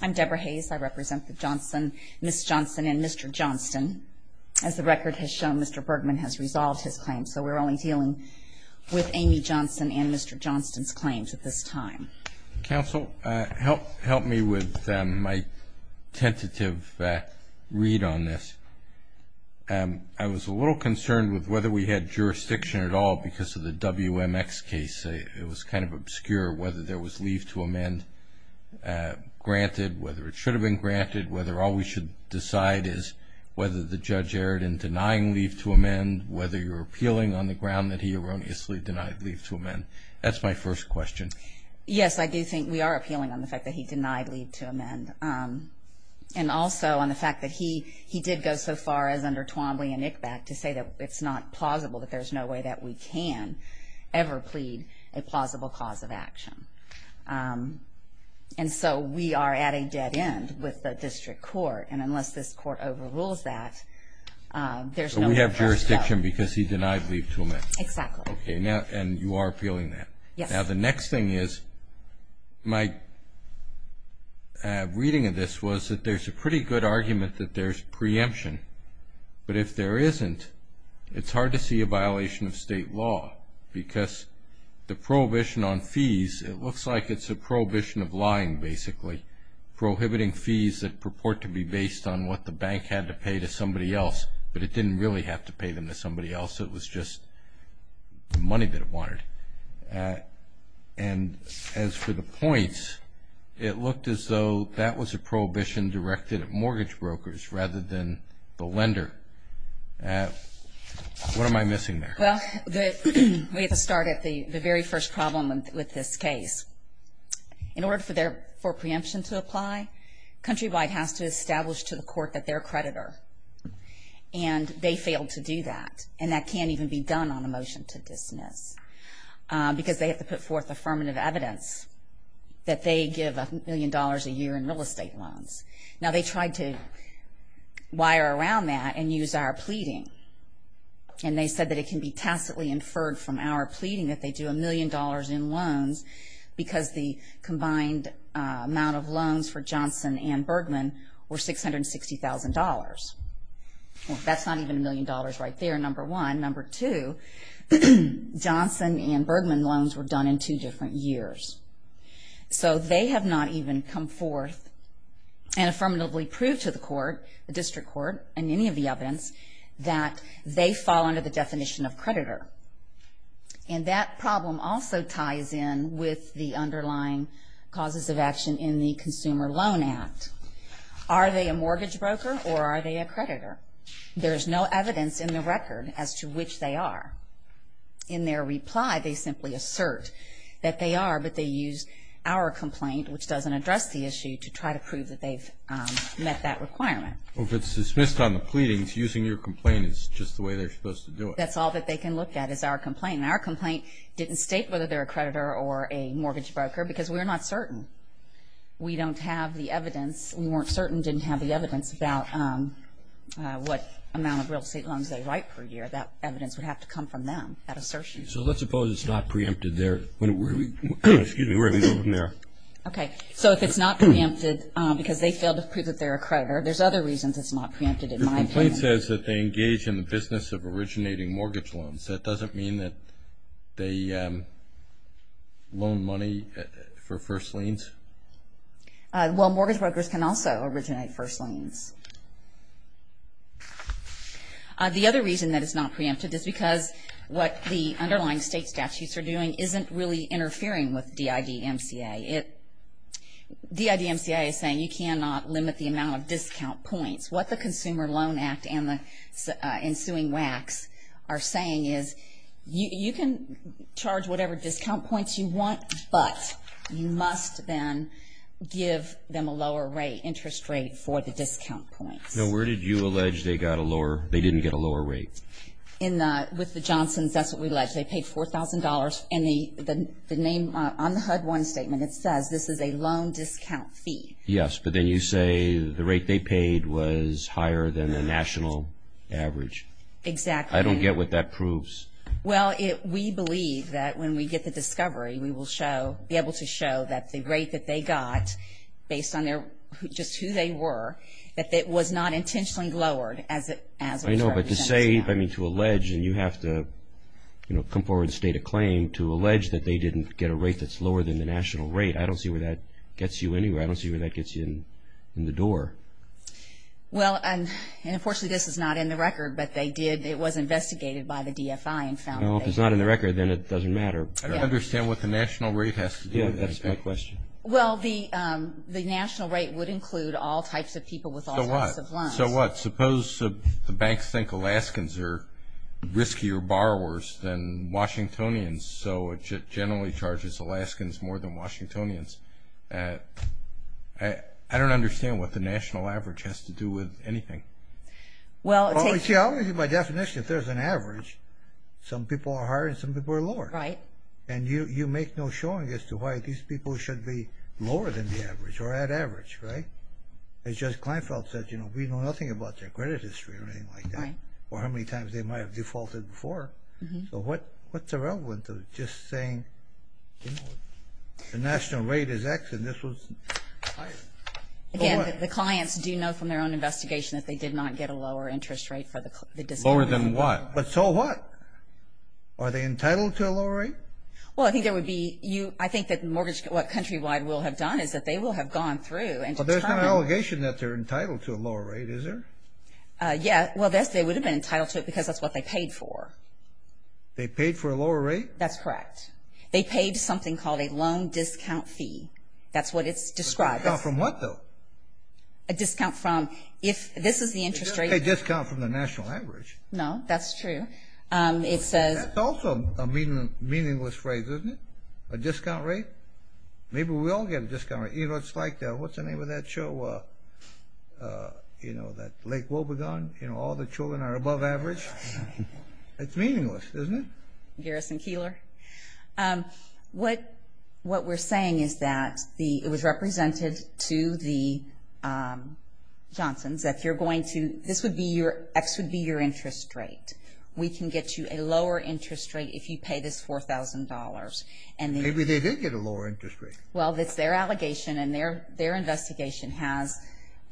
I'm Debra Hayes. I represent the Johnson, Ms. Johnson, and Mr. Johnston. As the record has shown, Mr. Bergman has resolved his claim. So we're only dealing with Amie Johnson and Mr. Johnston's claims at this time. Counsel, help me with my tentative read on this. I was a little concerned with whether we had jurisdiction at all because of the WMX case. It was kind of obscure whether there was leave to amend granted, whether it should have been granted, whether all we should decide is whether the judge erred in denying leave to amend, whether you're appealing on the ground that he erroneously denied leave to amend. That's my first question. Yes, I do think we are appealing on the fact that he denied leave to amend and also on the fact that he did go so far as under Twombly and ICBAC to say that it's not plausible, that there's no way that we can ever plead a plausible cause of action. And so we are at a dead end with the district court. And unless this court overrules that, there's no way for us to go. So we have jurisdiction because he denied leave to amend. Exactly. And you are appealing that. Yes. Now the next thing is my reading of this was that there's a pretty good argument that there's preemption. But if there isn't, it's hard to see a violation of state law because the prohibition on fees, it looks like it's a prohibition of lying basically, prohibiting fees that purport to be based on what the bank had to pay to somebody else, but it didn't really have to pay them to somebody else. It was just the money that it wanted. And as for the points, it looked as though that was a prohibition directed at mortgage brokers rather than the lender. What am I missing there? Well, we have to start at the very first problem with this case. In order for preemption to apply, Countrywide has to establish to the court that they're a creditor. And they failed to do that, and that can't even be done on a motion to dismiss because they have to put forth affirmative evidence that they give a million dollars a year in real estate loans. Now, they tried to wire around that and use our pleading, and they said that it can be tacitly inferred from our pleading that they do a million dollars in loans because the combined amount of loans for Johnson and Bergman were $660,000. That's not even a million dollars right there, number one. Number two, Johnson and Bergman loans were done in two different years. So they have not even come forth and affirmatively proved to the court, the district court, and any of the evidence that they fall under the definition of creditor. And that problem also ties in with the underlying causes of action in the Consumer Loan Act. Are they a mortgage broker or are they a creditor? There is no evidence in the record as to which they are. In their reply, they simply assert that they are, but they use our complaint, which doesn't address the issue, to try to prove that they've met that requirement. Well, if it's dismissed on the pleadings, using your complaint is just the way they're supposed to do it. That's all that they can look at is our complaint. And our complaint didn't state whether they're a creditor or a mortgage broker because we're not certain. We don't have the evidence. We weren't certain, didn't have the evidence about what amount of real estate loans they write per year. That evidence would have to come from them, that assertion. So let's suppose it's not preempted there. Okay, so if it's not preempted because they failed to prove that they're a creditor, there's other reasons it's not preempted in my opinion. Your complaint says that they engage in the business of originating mortgage loans. That doesn't mean that they loan money for first liens? Well, mortgage brokers can also originate first liens. The other reason that it's not preempted is because what the underlying state statutes are doing isn't really interfering with DIDMCA. DIDMCA is saying you cannot limit the amount of discount points. What the Consumer Loan Act and the ensuing WACs are saying is you can charge whatever discount points you want, but you must then give them a lower rate, interest rate for the discount points. Now where did you allege they didn't get a lower rate? With the Johnsons, that's what we allege. They paid $4,000, and on the HUD-1 statement it says this is a loan discount fee. Yes, but then you say the rate they paid was higher than the national average. Exactly. I don't get what that proves. Well, we believe that when we get the discovery, we will be able to show that the rate that they got, based on just who they were, that it was not intentionally lowered as it was charged. I know, but to say, I mean to allege, and you have to come forward and state a claim, to allege that they didn't get a rate that's lower than the national rate, I don't see where that gets you anywhere. I don't see where that gets you in the door. Well, and unfortunately this is not in the record, but they did, it was investigated by the DFI and found that they did. Well, if it's not in the record, then it doesn't matter. I don't understand what the national rate has to do with it. That's my question. Well, the national rate would include all types of people with all types of loans. So what? Suppose the banks think Alaskans are riskier borrowers than Washingtonians, so it generally charges Alaskans more than Washingtonians. I don't understand what the national average has to do with anything. Well, it takes… See, I'll give you my definition. If there's an average, some people are higher and some people are lower. Right. And you make no showing as to why these people should be lower than the average or at average, right? It's just Kleinfeld says, you know, we know nothing about their credit history or anything like that or how many times they might have defaulted before. So what's the relevance of just saying the national rate is X and this was higher? Again, the clients do know from their own investigation that they did not get a lower interest rate for the discount. Lower than what? But so what? Are they entitled to a lower rate? Well, I think there would be you… I think that what Countrywide will have done is that they will have gone through and… But there's no allegation that they're entitled to a lower rate, is there? Yeah. Well, they would have been entitled to it because that's what they paid for. They paid for a lower rate? That's correct. They paid something called a loan discount fee. That's what it's described as. A discount from what, though? A discount from… If this is the interest rate… You don't pay a discount from the national average. No, that's true. It says… That's also a meaningless phrase, isn't it? A discount rate? Maybe we all get a discount rate. You know, it's like… What's the name of that show? You know, that Lake Wobegon? You know, all the children are above average? It's meaningless, isn't it? Garrison Keillor. What we're saying is that it was represented to the Johnsons that you're going to… This would be your… X would be your interest rate. We can get you a lower interest rate if you pay this $4,000. Maybe they did get a lower interest rate. Well, it's their allegation and their investigation has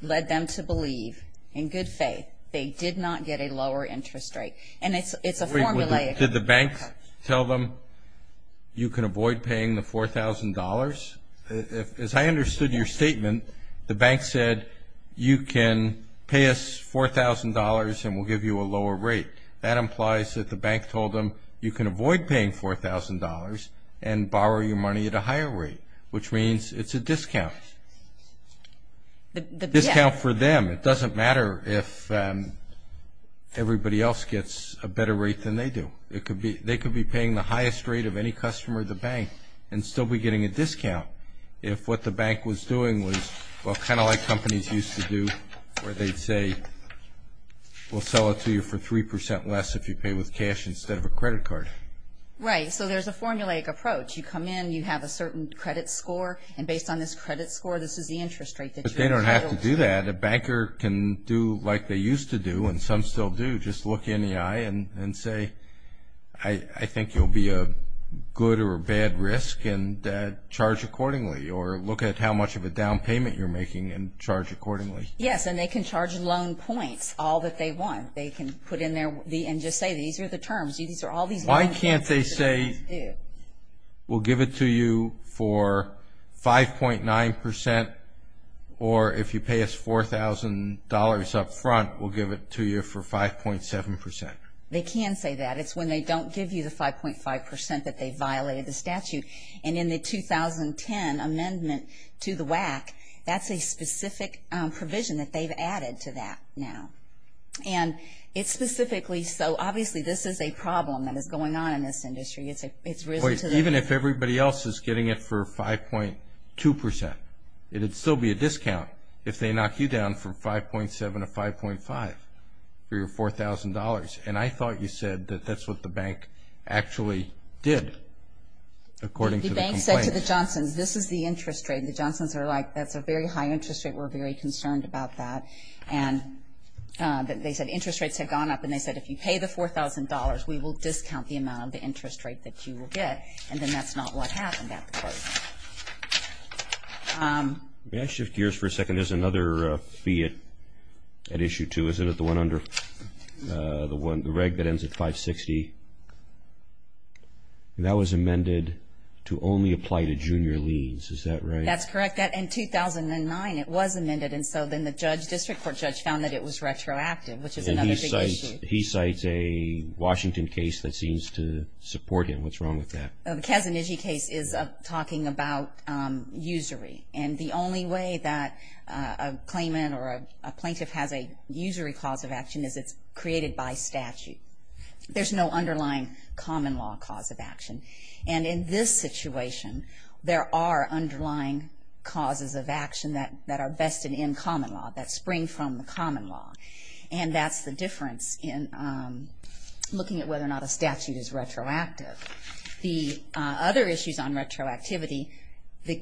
led them to believe, in good faith, they did not get a lower interest rate. And it's a formulaic… Did the bank tell them you can avoid paying the $4,000? As I understood your statement, the bank said you can pay us $4,000 and we'll give you a lower rate. That implies that the bank told them you can avoid paying $4,000 and borrow your money at a higher rate, which means it's a discount. The discount for them. It doesn't matter if everybody else gets a better rate than they do. They could be paying the highest rate of any customer at the bank and still be getting a discount if what the bank was doing was, well, kind of like companies used to do where they'd say we'll sell it to you for 3% less if you pay with cash instead of a credit card. Right. So there's a formulaic approach. You come in, you have a certain credit score, and based on this credit score, this is the interest rate that you're entitled to. But they don't have to do that. A banker can do like they used to do, and some still do, just look you in the eye and say, I think you'll be a good or a bad risk and charge accordingly, or look at how much of a down payment you're making and charge accordingly. Yes, and they can charge loan points all that they want. They can put in there and just say these are the terms. Why can't they say we'll give it to you for 5.9% or if you pay us $4,000 up front, we'll give it to you for 5.7%? They can say that. It's when they don't give you the 5.5% that they violated the statute. And in the 2010 amendment to the WAC, that's a specific provision that they've added to that now. And it's specifically so obviously this is a problem that is going on in this industry. Even if everybody else is getting it for 5.2%, it would still be a discount if they knock you down from 5.7% to 5.5% for your $4,000. And I thought you said that that's what the bank actually did according to the complaint. The bank said to the Johnsons, this is the interest rate. The Johnsons are like that's a very high interest rate. We're very concerned about that. And they said interest rates had gone up, and they said if you pay the $4,000, we will discount the amount of the interest rate that you will get. And then that's not what happened at the court. May I shift gears for a second? There's another fee at Issue 2, isn't it? The one under the reg that ends at 560. That was amended to only apply to junior liens. Is that right? That's correct. In 2009 it was amended, and so then the district court judge found that it was retroactive, which is another big issue. He cites a Washington case that seems to support him. What's wrong with that? The Kazaniji case is talking about usury. And the only way that a claimant or a plaintiff has a usury cause of action is it's created by statute. There's no underlying common law cause of action. And in this situation, there are underlying causes of action that are vested in common law, that spring from the common law. And that's the difference in looking at whether or not a statute is retroactive. The other issues on retroactivity,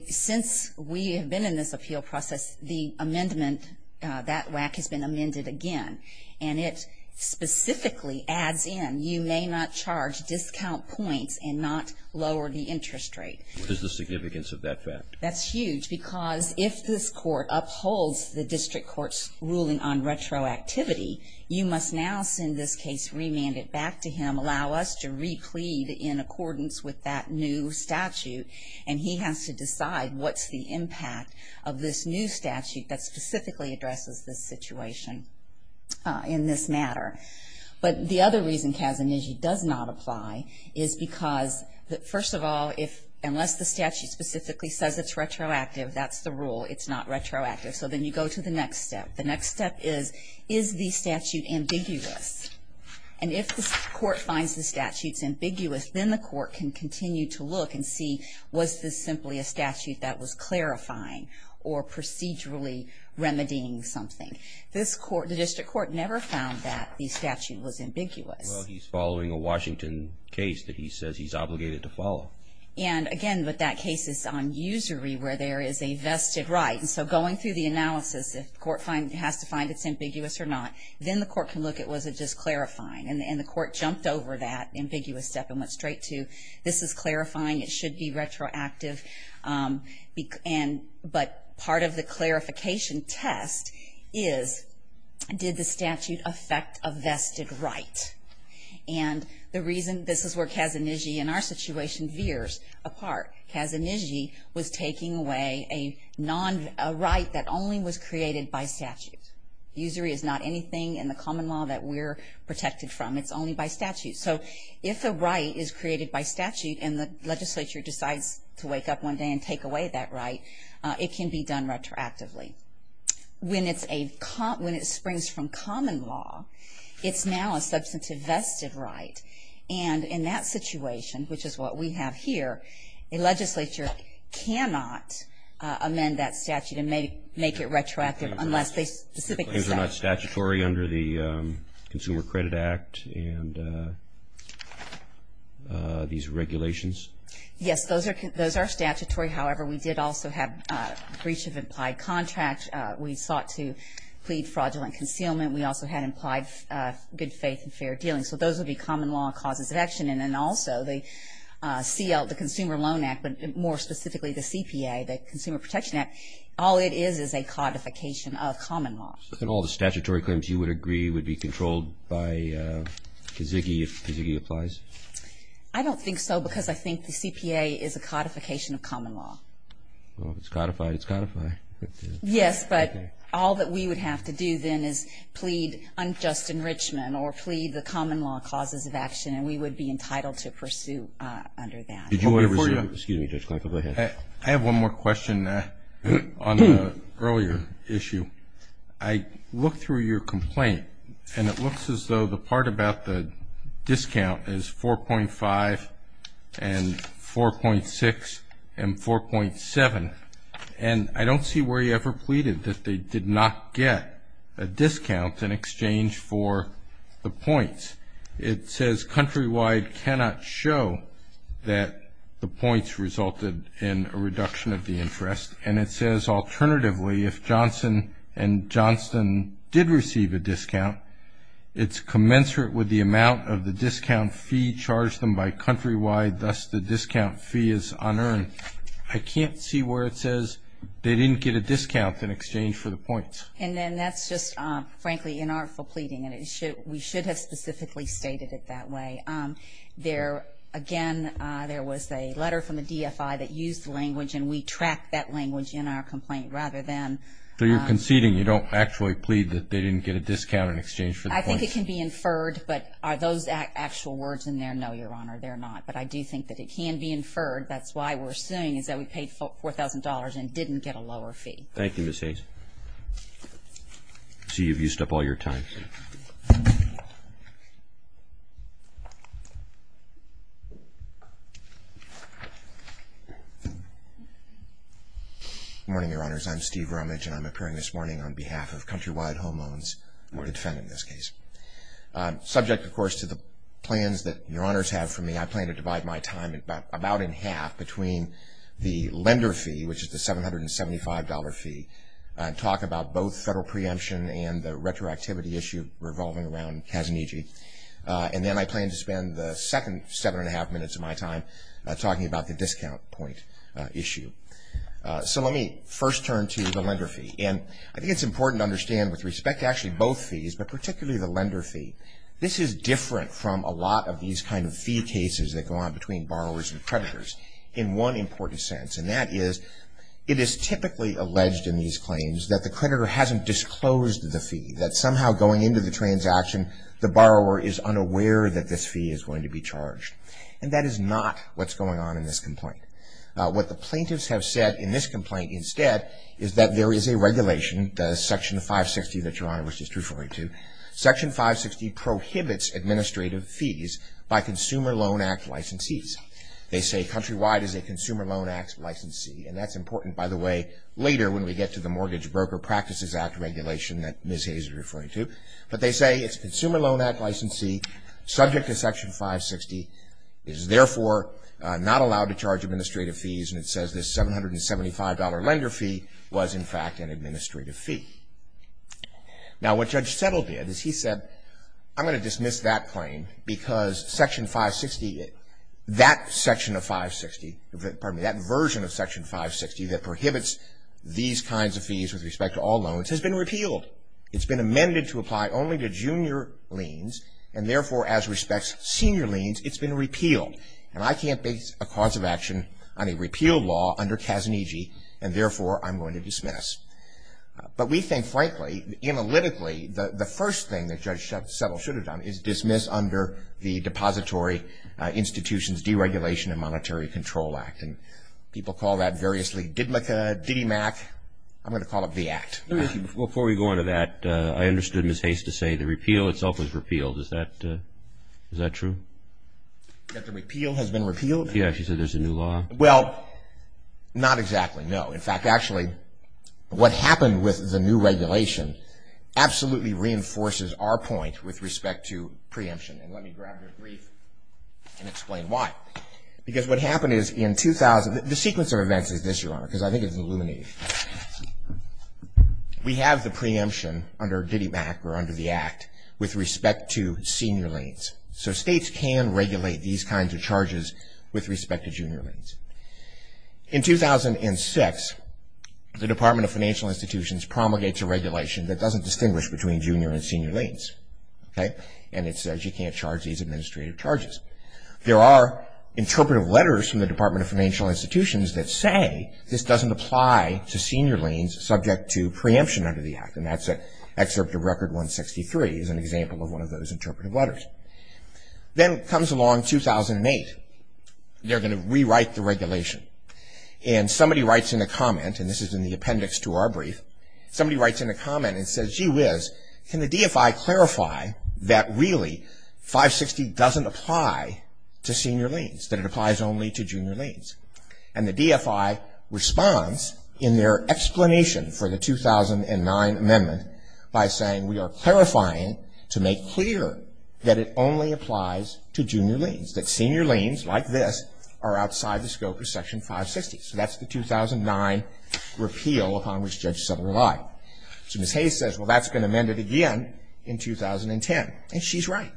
since we have been in this appeal process, the amendment, that WAC has been amended again. And it specifically adds in you may not charge discount points and not lower the interest rate. What is the significance of that fact? That's huge because if this court upholds the district court's ruling on retroactivity, you must now send this case, remand it back to him, allow us to replete in accordance with that new statute. And he has to decide what's the impact of this new statute that specifically addresses this situation in this matter. But the other reason Kazaniji does not apply is because, first of all, unless the statute specifically says it's retroactive, that's the rule. It's not retroactive. So then you go to the next step. The next step is, is the statute ambiguous? And if the court finds the statute's ambiguous, then the court can continue to look and see, was this simply a statute that was clarifying or procedurally remedying something? The district court never found that the statute was ambiguous. Well, he's following a Washington case that he says he's obligated to follow. And, again, but that case is on usury where there is a vested right. And so going through the analysis, if the court has to find it's ambiguous or not, then the court can look at, was it just clarifying? And the court jumped over that ambiguous step and went straight to, this is clarifying. It should be retroactive. But part of the clarification test is, did the statute affect a vested right? And the reason this is where Kazaniji, in our situation, veers apart. Kazaniji was taking away a right that only was created by statute. Usury is not anything in the common law that we're protected from. It's only by statute. So if a right is created by statute and the legislature decides to wake up one day and take away that right, it can be done retroactively. When it springs from common law, it's now a substantive vested right. And in that situation, which is what we have here, a legislature cannot amend that statute and make it retroactive unless they specifically say. Claims are not statutory under the Consumer Credit Act and these regulations? Yes, those are statutory. However, we did also have breach of implied contract. We sought to plead fraudulent concealment. We also had implied good faith and fair dealing. So those would be common law causes of action. And also the Consumer Loan Act, but more specifically the CPA, the Consumer Protection Act, all it is is a codification of common law. And all the statutory claims you would agree would be controlled by Kazaniji if Kazaniji applies? I don't think so because I think the CPA is a codification of common law. Well, if it's codified, it's codified. Yes, but all that we would have to do then is plead unjust enrichment or plead the common law causes of action, and we would be entitled to pursue under that. Excuse me, Judge Clark, go ahead. I have one more question on the earlier issue. I looked through your complaint, and it looks as though the part about the discount is 4.5 and 4.6 and 4.7. And I don't see where you ever pleaded that they did not get a discount in exchange for the points. It says, countrywide cannot show that the points resulted in a reduction of the interest. And it says, alternatively, if Johnson & Johnson did receive a discount, it's commensurate with the amount of the discount fee charged them by countrywide, thus the discount fee is unearned. I can't see where it says they didn't get a discount in exchange for the points. And then that's just, frankly, inartful pleading, and we should have specifically stated it that way. There, again, there was a letter from the DFI that used the language, and we tracked that language in our complaint rather than – So you're conceding you don't actually plead that they didn't get a discount in exchange for the points. I think it can be inferred, but are those actual words in there? No, Your Honor, they're not. But I do think that it can be inferred. That's why we're saying is that we paid $4,000 and didn't get a lower fee. Thank you, Ms. Hayes. I see you've used up all your time. Good morning, Your Honors. I'm Steve Romich, and I'm appearing this morning on behalf of Countrywide Home Owns to defend in this case. Subject, of course, to the plans that Your Honors have for me, I plan to divide my time about in half between the lender fee, which is the $775 fee, and talk about both federal preemption and the retroactivity issue revolving around Kazuniji. And then I plan to spend the second seven and a half minutes of my time talking about the discount point issue. So let me first turn to the lender fee. And I think it's important to understand with respect to actually both fees, but particularly the lender fee, this is different from a lot of these kind of fee cases that go on between borrowers and creditors in one important sense. And that is it is typically alleged in these claims that the creditor hasn't disclosed the fee, that somehow going into the transaction, the borrower is unaware that this fee is going to be charged. And that is not what's going on in this complaint. What the plaintiffs have said in this complaint instead is that there is a regulation, the Section 560 that Your Honors is referring to. Section 560 prohibits administrative fees by Consumer Loan Act licensees. They say countrywide is a Consumer Loan Act licensee, and that's important, by the way, later when we get to the Mortgage Broker Practices Act regulation that Ms. Hayes is referring to. But they say it's Consumer Loan Act licensee, subject to Section 560, is therefore not allowed to charge administrative fees, and it says this $775 lender fee was, in fact, an administrative fee. Now what Judge Settle did is he said, I'm going to dismiss that claim because Section 560, that section of 560, pardon me, that version of Section 560 that prohibits these kinds of fees with respect to all loans has been repealed. It's been amended to apply only to junior liens, and therefore as respects senior liens, it's been repealed. And I can't base a cause of action on a repeal law under Kazaniji, and therefore I'm going to dismiss. But we think, frankly, analytically, the first thing that Judge Settle should have done is dismiss under the Depository Institutions Deregulation and Monetary Control Act. And people call that variously DIDMCA, DDIMAC. I'm going to call it VACT. Before we go into that, I understood Ms. Hayes to say the repeal itself was repealed. Is that true? That the repeal has been repealed? Yeah, she said there's a new law. Well, not exactly, no. In fact, actually, what happened with the new regulation absolutely reinforces our point with respect to preemption. And let me grab your brief and explain why. Because what happened is in 2000, the sequence of events is this, Your Honor, because I think it's illuminating. We have the preemption under DDIMAC or under the Act with respect to senior liens. So states can regulate these kinds of charges with respect to junior liens. In 2006, the Department of Financial Institutions promulgates a regulation that doesn't distinguish between junior and senior liens, okay? And it says you can't charge these administrative charges. There are interpretive letters from the Department of Financial Institutions that say this doesn't apply to senior liens subject to preemption under the Act. And that's an excerpt of Record 163 as an example of one of those interpretive letters. Then comes along 2008. They're going to rewrite the regulation. And somebody writes in a comment, and this is in the appendix to our brief, somebody writes in a comment and says, gee whiz, can the DFI clarify that really 560 doesn't apply to senior liens, that it applies only to junior liens? And the DFI responds in their explanation for the 2009 amendment by saying we are clarifying to make clear that it only applies to junior liens, that senior liens like this are outside the scope of Section 560. So that's the 2009 repeal upon which Judge Sutter relied. So Ms. Hayes says, well, that's been amended again in 2010. And she's right.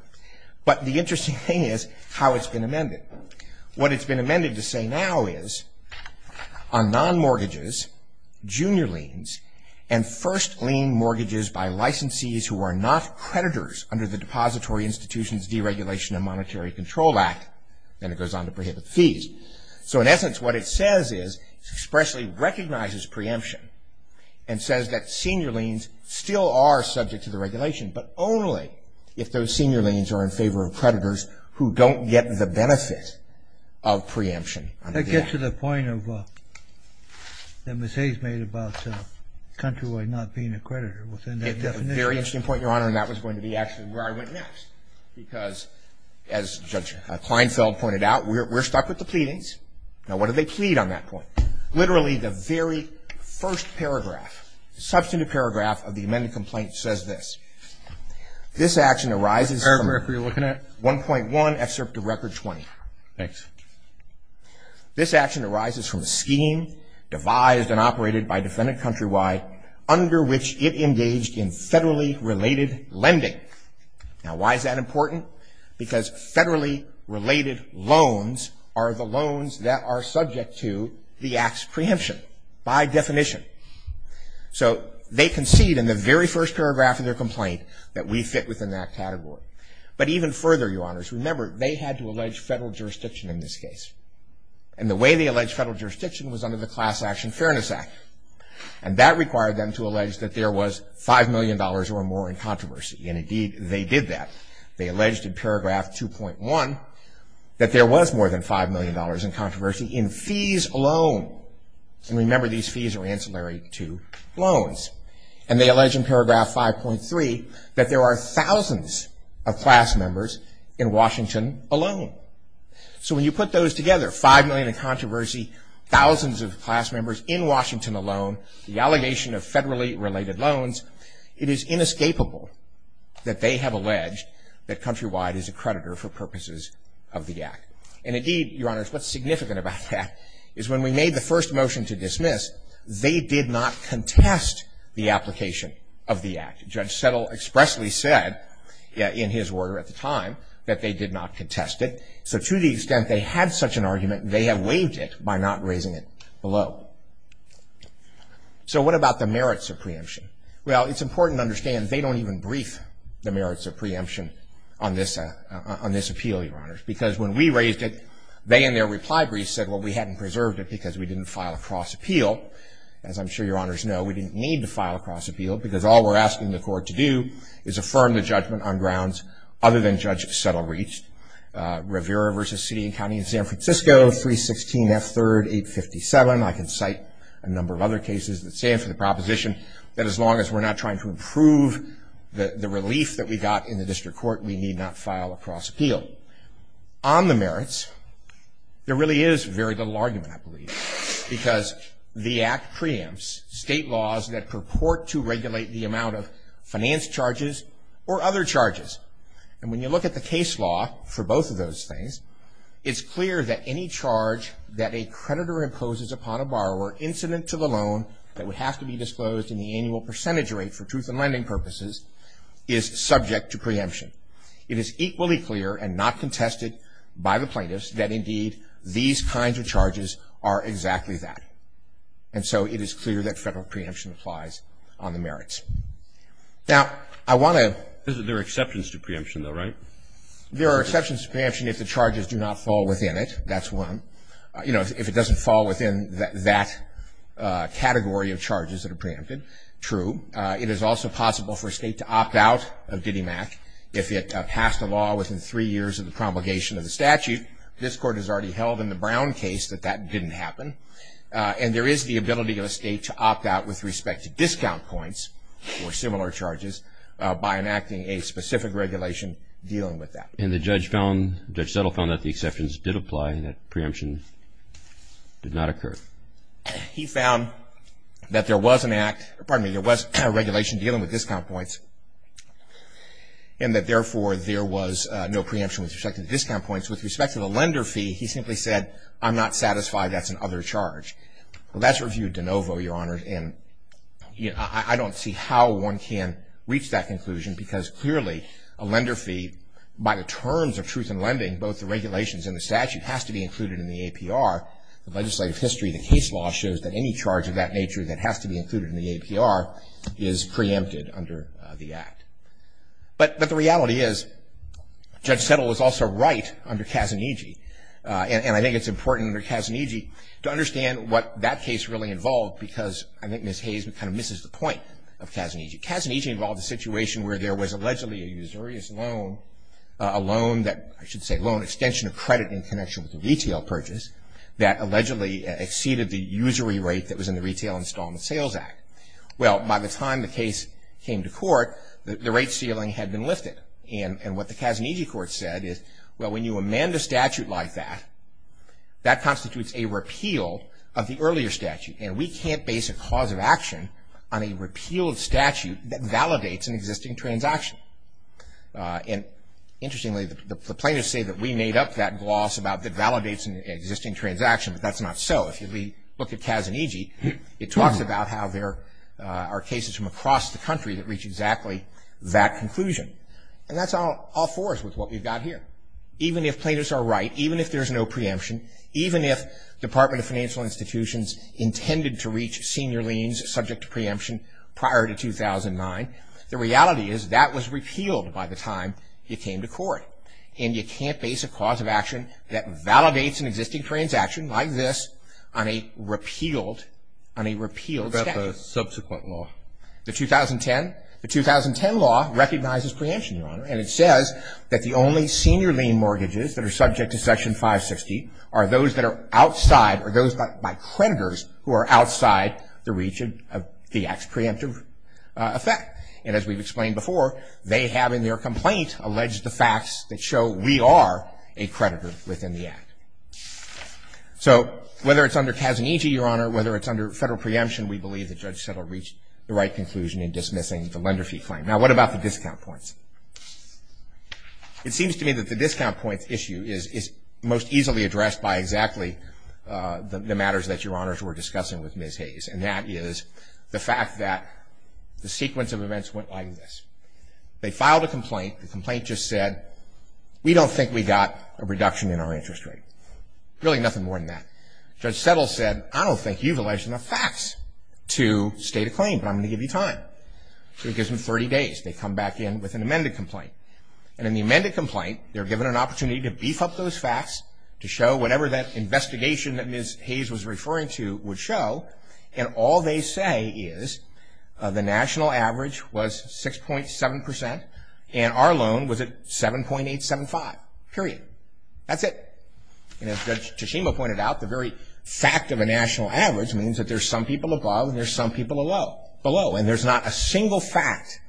But the interesting thing is how it's been amended. What it's been amended to say now is on non-mortgages, junior liens, and first lien mortgages by licensees who are not creditors under the Depository Institution's Deregulation and Monetary Control Act. Then it goes on to prohibit fees. So in essence, what it says is it expressly recognizes preemption and says that senior liens still are subject to the regulation, but only if those senior liens are in favor of creditors who don't get the benefit of preemption. That gets to the point that Ms. Hayes made about countrywide not being a creditor within that definition. It's a very interesting point, Your Honor, and that was going to be actually where I went next. Because as Judge Kleinfeld pointed out, we're stuck with the pleadings. Now, what do they plead on that point? Literally the very first paragraph, substantive paragraph of the amended complaint says this. This action arises from 1.1 excerpt of Record 20. Thanks. This action arises from a scheme devised and operated by defendant countrywide under which it engaged in federally related lending. Now, why is that important? Because federally related loans are the loans that are subject to the act's preemption by definition. So they concede in the very first paragraph of their complaint that we fit within that category. But even further, Your Honors, remember they had to allege federal jurisdiction in this case. And the way they allege federal jurisdiction was under the Class Action Fairness Act. And that required them to allege that there was $5 million or more in controversy. And, indeed, they did that. They alleged in paragraph 2.1 that there was more than $5 million in controversy in fees alone. And, remember, these fees are ancillary to loans. And they allege in paragraph 5.3 that there are thousands of class members in Washington alone. So when you put those together, $5 million in controversy, thousands of class members in Washington alone, the allegation of federally related loans, it is inescapable that they have alleged that countrywide is a creditor for purposes of the act. And, indeed, Your Honors, what's significant about that is when we made the first motion to dismiss, they did not contest the application of the act. Judge Settle expressly said, in his order at the time, that they did not contest it. So to the extent they had such an argument, they have waived it by not raising it below. So what about the merits of preemption? Well, it's important to understand they don't even brief the merits of preemption on this appeal, Your Honors. Because when we raised it, they, in their reply brief, said, well, we hadn't preserved it because we didn't file a cross-appeal. As I'm sure Your Honors know, we didn't need to file a cross-appeal because all we're asking the court to do is affirm the judgment on grounds other than Judge Settle reached. Rivera v. City and County of San Francisco, 316 F. 3rd 857. I can cite a number of other cases that stand for the proposition that as long as we're not trying to improve the relief that we got in the district court, we need not file a cross-appeal. On the merits, there really is very little argument, I believe, because the Act preempts state laws that purport to regulate the amount of finance charges or other charges. And when you look at the case law for both of those things, it's clear that any charge that a creditor imposes upon a borrower incident to the loan that would have to be disclosed in the annual percentage rate for truth in lending purposes is subject to preemption. It is equally clear and not contested by the plaintiffs that, indeed, these kinds of charges are exactly that. And so it is clear that federal preemption applies on the merits. Now, I want to... There are exceptions to preemption, though, right? There are exceptions to preemption if the charges do not fall within it. That's one. You know, if it doesn't fall within that category of charges that are preempted, true. It is also possible for a state to opt out of DDIMACC if it passed a law within three years of the promulgation of the statute. This Court has already held in the Brown case that that didn't happen. And there is the ability of a state to opt out with respect to discount points or similar charges by enacting a specific regulation dealing with that. And the judge found... Judge Settle found that the exceptions did apply and that preemption did not occur. He found that there was an act... Pardon me. There was a regulation dealing with discount points and that, therefore, there was no preemption with respect to discount points. With respect to the lender fee, he simply said, I'm not satisfied that's an other charge. Well, that's reviewed de novo, Your Honor, and I don't see how one can reach that conclusion because, clearly, a lender fee, by the terms of truth in lending, both the regulations and the statute, has to be included in the APR, the legislative history of the case law shows that any charge of that nature that has to be included in the APR is preempted under the Act. But the reality is Judge Settle was also right under Kazuniji, and I think it's important under Kazuniji to understand what that case really involved because I think Ms. Hayes kind of misses the point of Kazuniji. Kazuniji involved a situation where there was allegedly a usurious loan, a loan that... I should say loan extension of credit in connection with a retail purchase, that allegedly exceeded the usury rate that was in the Retail Installment Sales Act. Well, by the time the case came to court, the rate ceiling had been lifted, and what the Kazuniji court said is, well, when you amend a statute like that, that constitutes a repeal of the earlier statute, and we can't base a cause of action on a repealed statute that validates an existing transaction. And interestingly, the plaintiffs say that we made up that gloss about that validates an existing transaction, but that's not so. If you look at Kazuniji, it talks about how there are cases from across the country that reach exactly that conclusion, and that's all for us with what we've got here. Even if plaintiffs are right, even if there's no preemption, even if the Department of Financial Institutions intended to reach senior liens subject to preemption prior to 2009, the reality is that was repealed by the time it came to court, and you can't base a cause of action that validates an existing transaction like this on a repealed statute. What about the subsequent law? The 2010 law recognizes preemption, Your Honor, and it says that the only senior lien mortgages that are subject to Section 560 are those that are outside or those by creditors who are outside the reach of the Act's preemptive effect. And as we've explained before, they have in their complaint alleged the facts that show we are a creditor within the Act. So whether it's under Kazuniji, Your Honor, whether it's under federal preemption, we believe that Judge Settle reached the right conclusion in dismissing the lender fee claim. Now, what about the discount points? It seems to me that the discount points issue is most easily addressed by exactly the matters that Your Honors were discussing with Ms. Hayes, and that is the fact that the sequence of events went like this. They filed a complaint. The complaint just said, we don't think we got a reduction in our interest rate. Really nothing more than that. Judge Settle said, I don't think you've alleged enough facts to state a claim, but I'm going to give you time. So he gives them 30 days. They come back in with an amended complaint. And in the amended complaint, they're given an opportunity to beef up those facts, to show whatever that investigation that Ms. Hayes was referring to would show, and all they say is the national average was 6.7 percent, and our loan was at 7.875, period. That's it. And as Judge Teshima pointed out, the very fact of a national average means that there's some people above and there's some people below. And there's not a single fact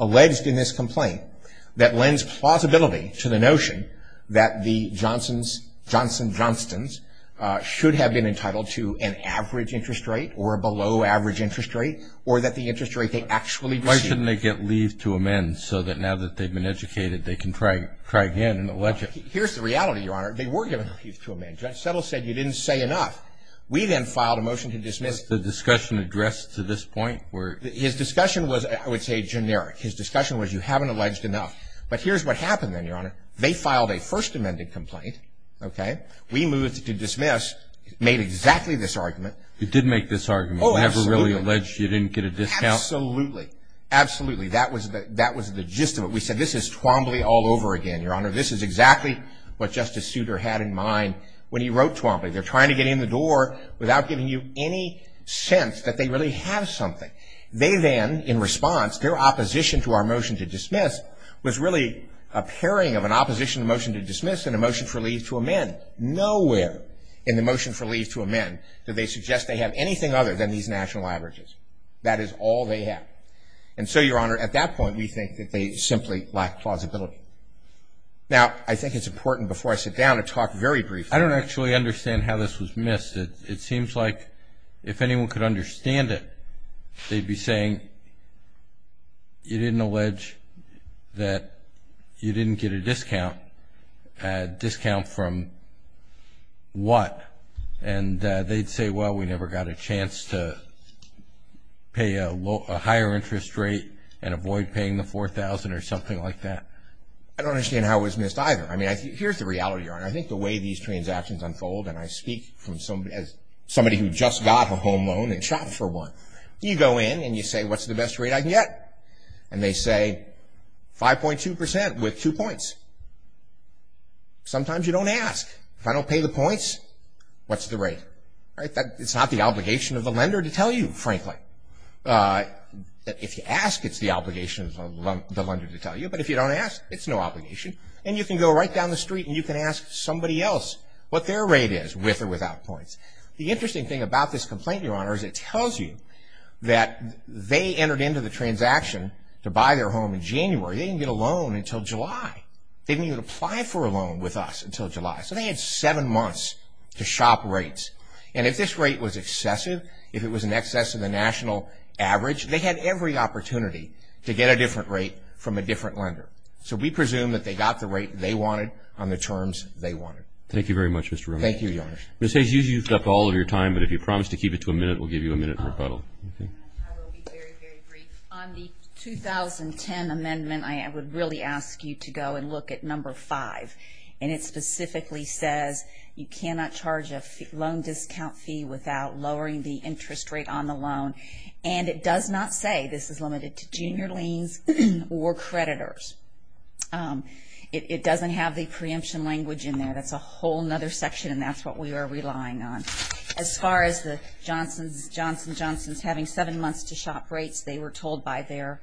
alleged in this complaint that lends plausibility to the notion that the Johnson-Johnstons should have been entitled to an average interest rate or a below average interest rate or that the interest rate they actually received. Why shouldn't they get leave to amend so that now that they've been educated, they can try again and allege it? Here's the reality, Your Honor. They were given leave to amend. Judge Settle said you didn't say enough. We then filed a motion to dismiss. Was the discussion addressed to this point? His discussion was, I would say, generic. His discussion was you haven't alleged enough. But here's what happened then, Your Honor. They filed a first amended complaint, okay? We moved to dismiss, made exactly this argument. You did make this argument. Oh, absolutely. You never really alleged you didn't get a discount. Absolutely. Absolutely. That was the gist of it. We said this is Twombly all over again, Your Honor. This is exactly what Justice Souter had in mind when he wrote Twombly. They're trying to get in the door without giving you any sense that they really have something. They then, in response, their opposition to our motion to dismiss was really a pairing of an opposition motion to dismiss and a motion for leave to amend. Nowhere in the motion for leave to amend do they suggest they have anything other than these national averages. That is all they have. And so, Your Honor, at that point, we think that they simply lack plausibility. Now, I think it's important before I sit down to talk very briefly. I don't actually understand how this was missed. It seems like if anyone could understand it, they'd be saying you didn't allege that you didn't get a discount. A discount from what? And they'd say, well, we never got a chance to pay a higher interest rate and avoid paying the $4,000 or something like that. I don't understand how it was missed either. I mean, here's the reality, Your Honor. I think the way these transactions unfold, and I speak as somebody who just got a home loan and shopped for one, you go in and you say, what's the best rate I can get? And they say, 5.2% with two points. Sometimes you don't ask. If I don't pay the points, what's the rate? It's not the obligation of the lender to tell you, frankly. If you ask, it's the obligation of the lender to tell you. But if you don't ask, it's no obligation. And you can go right down the street and you can ask somebody else what their rate is, with or without points. The interesting thing about this complaint, Your Honor, is it tells you that they entered into the transaction to buy their home in January. They didn't get a loan until July. They didn't even apply for a loan with us until July. So they had seven months to shop rates. And if this rate was excessive, if it was in excess of the national average, they had every opportunity to get a different rate from a different lender. So we presume that they got the rate they wanted on the terms they wanted. Thank you very much, Mr. Romero. Thank you, Your Honor. Ms. Hayes, you've used up all of your time, but if you promise to keep it to a minute, we'll give you a minute in rebuttal. I will be very, very brief. On the 2010 amendment, I would really ask you to go and look at number five. And it specifically says you cannot charge a loan discount fee without lowering the interest rate on the loan. And it does not say this is limited to junior liens or creditors. It doesn't have the preemption language in there. That's a whole other section, and that's what we are relying on. As far as the Johnson & Johnson's having seven months to shop rates, they were told by their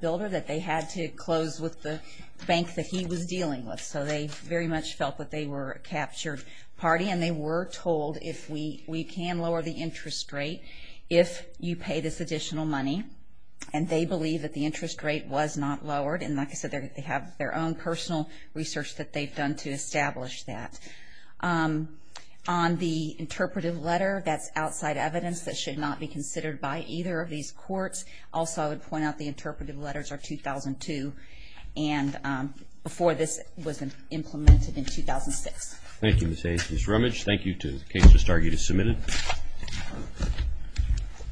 builder that they had to close with the bank that he was dealing with. So they very much felt that they were a captured party. And they were told if we can lower the interest rate if you pay this additional money. And they believe that the interest rate was not lowered. And like I said, they have their own personal research that they've done to establish that. On the interpretive letter, that's outside evidence that should not be considered by either of these courts. Also, I would point out the interpretive letters are 2002, and before this was implemented in 2006. Thank you, Ms. Hastings-Rummage. Thank you to the case. This argument is submitted.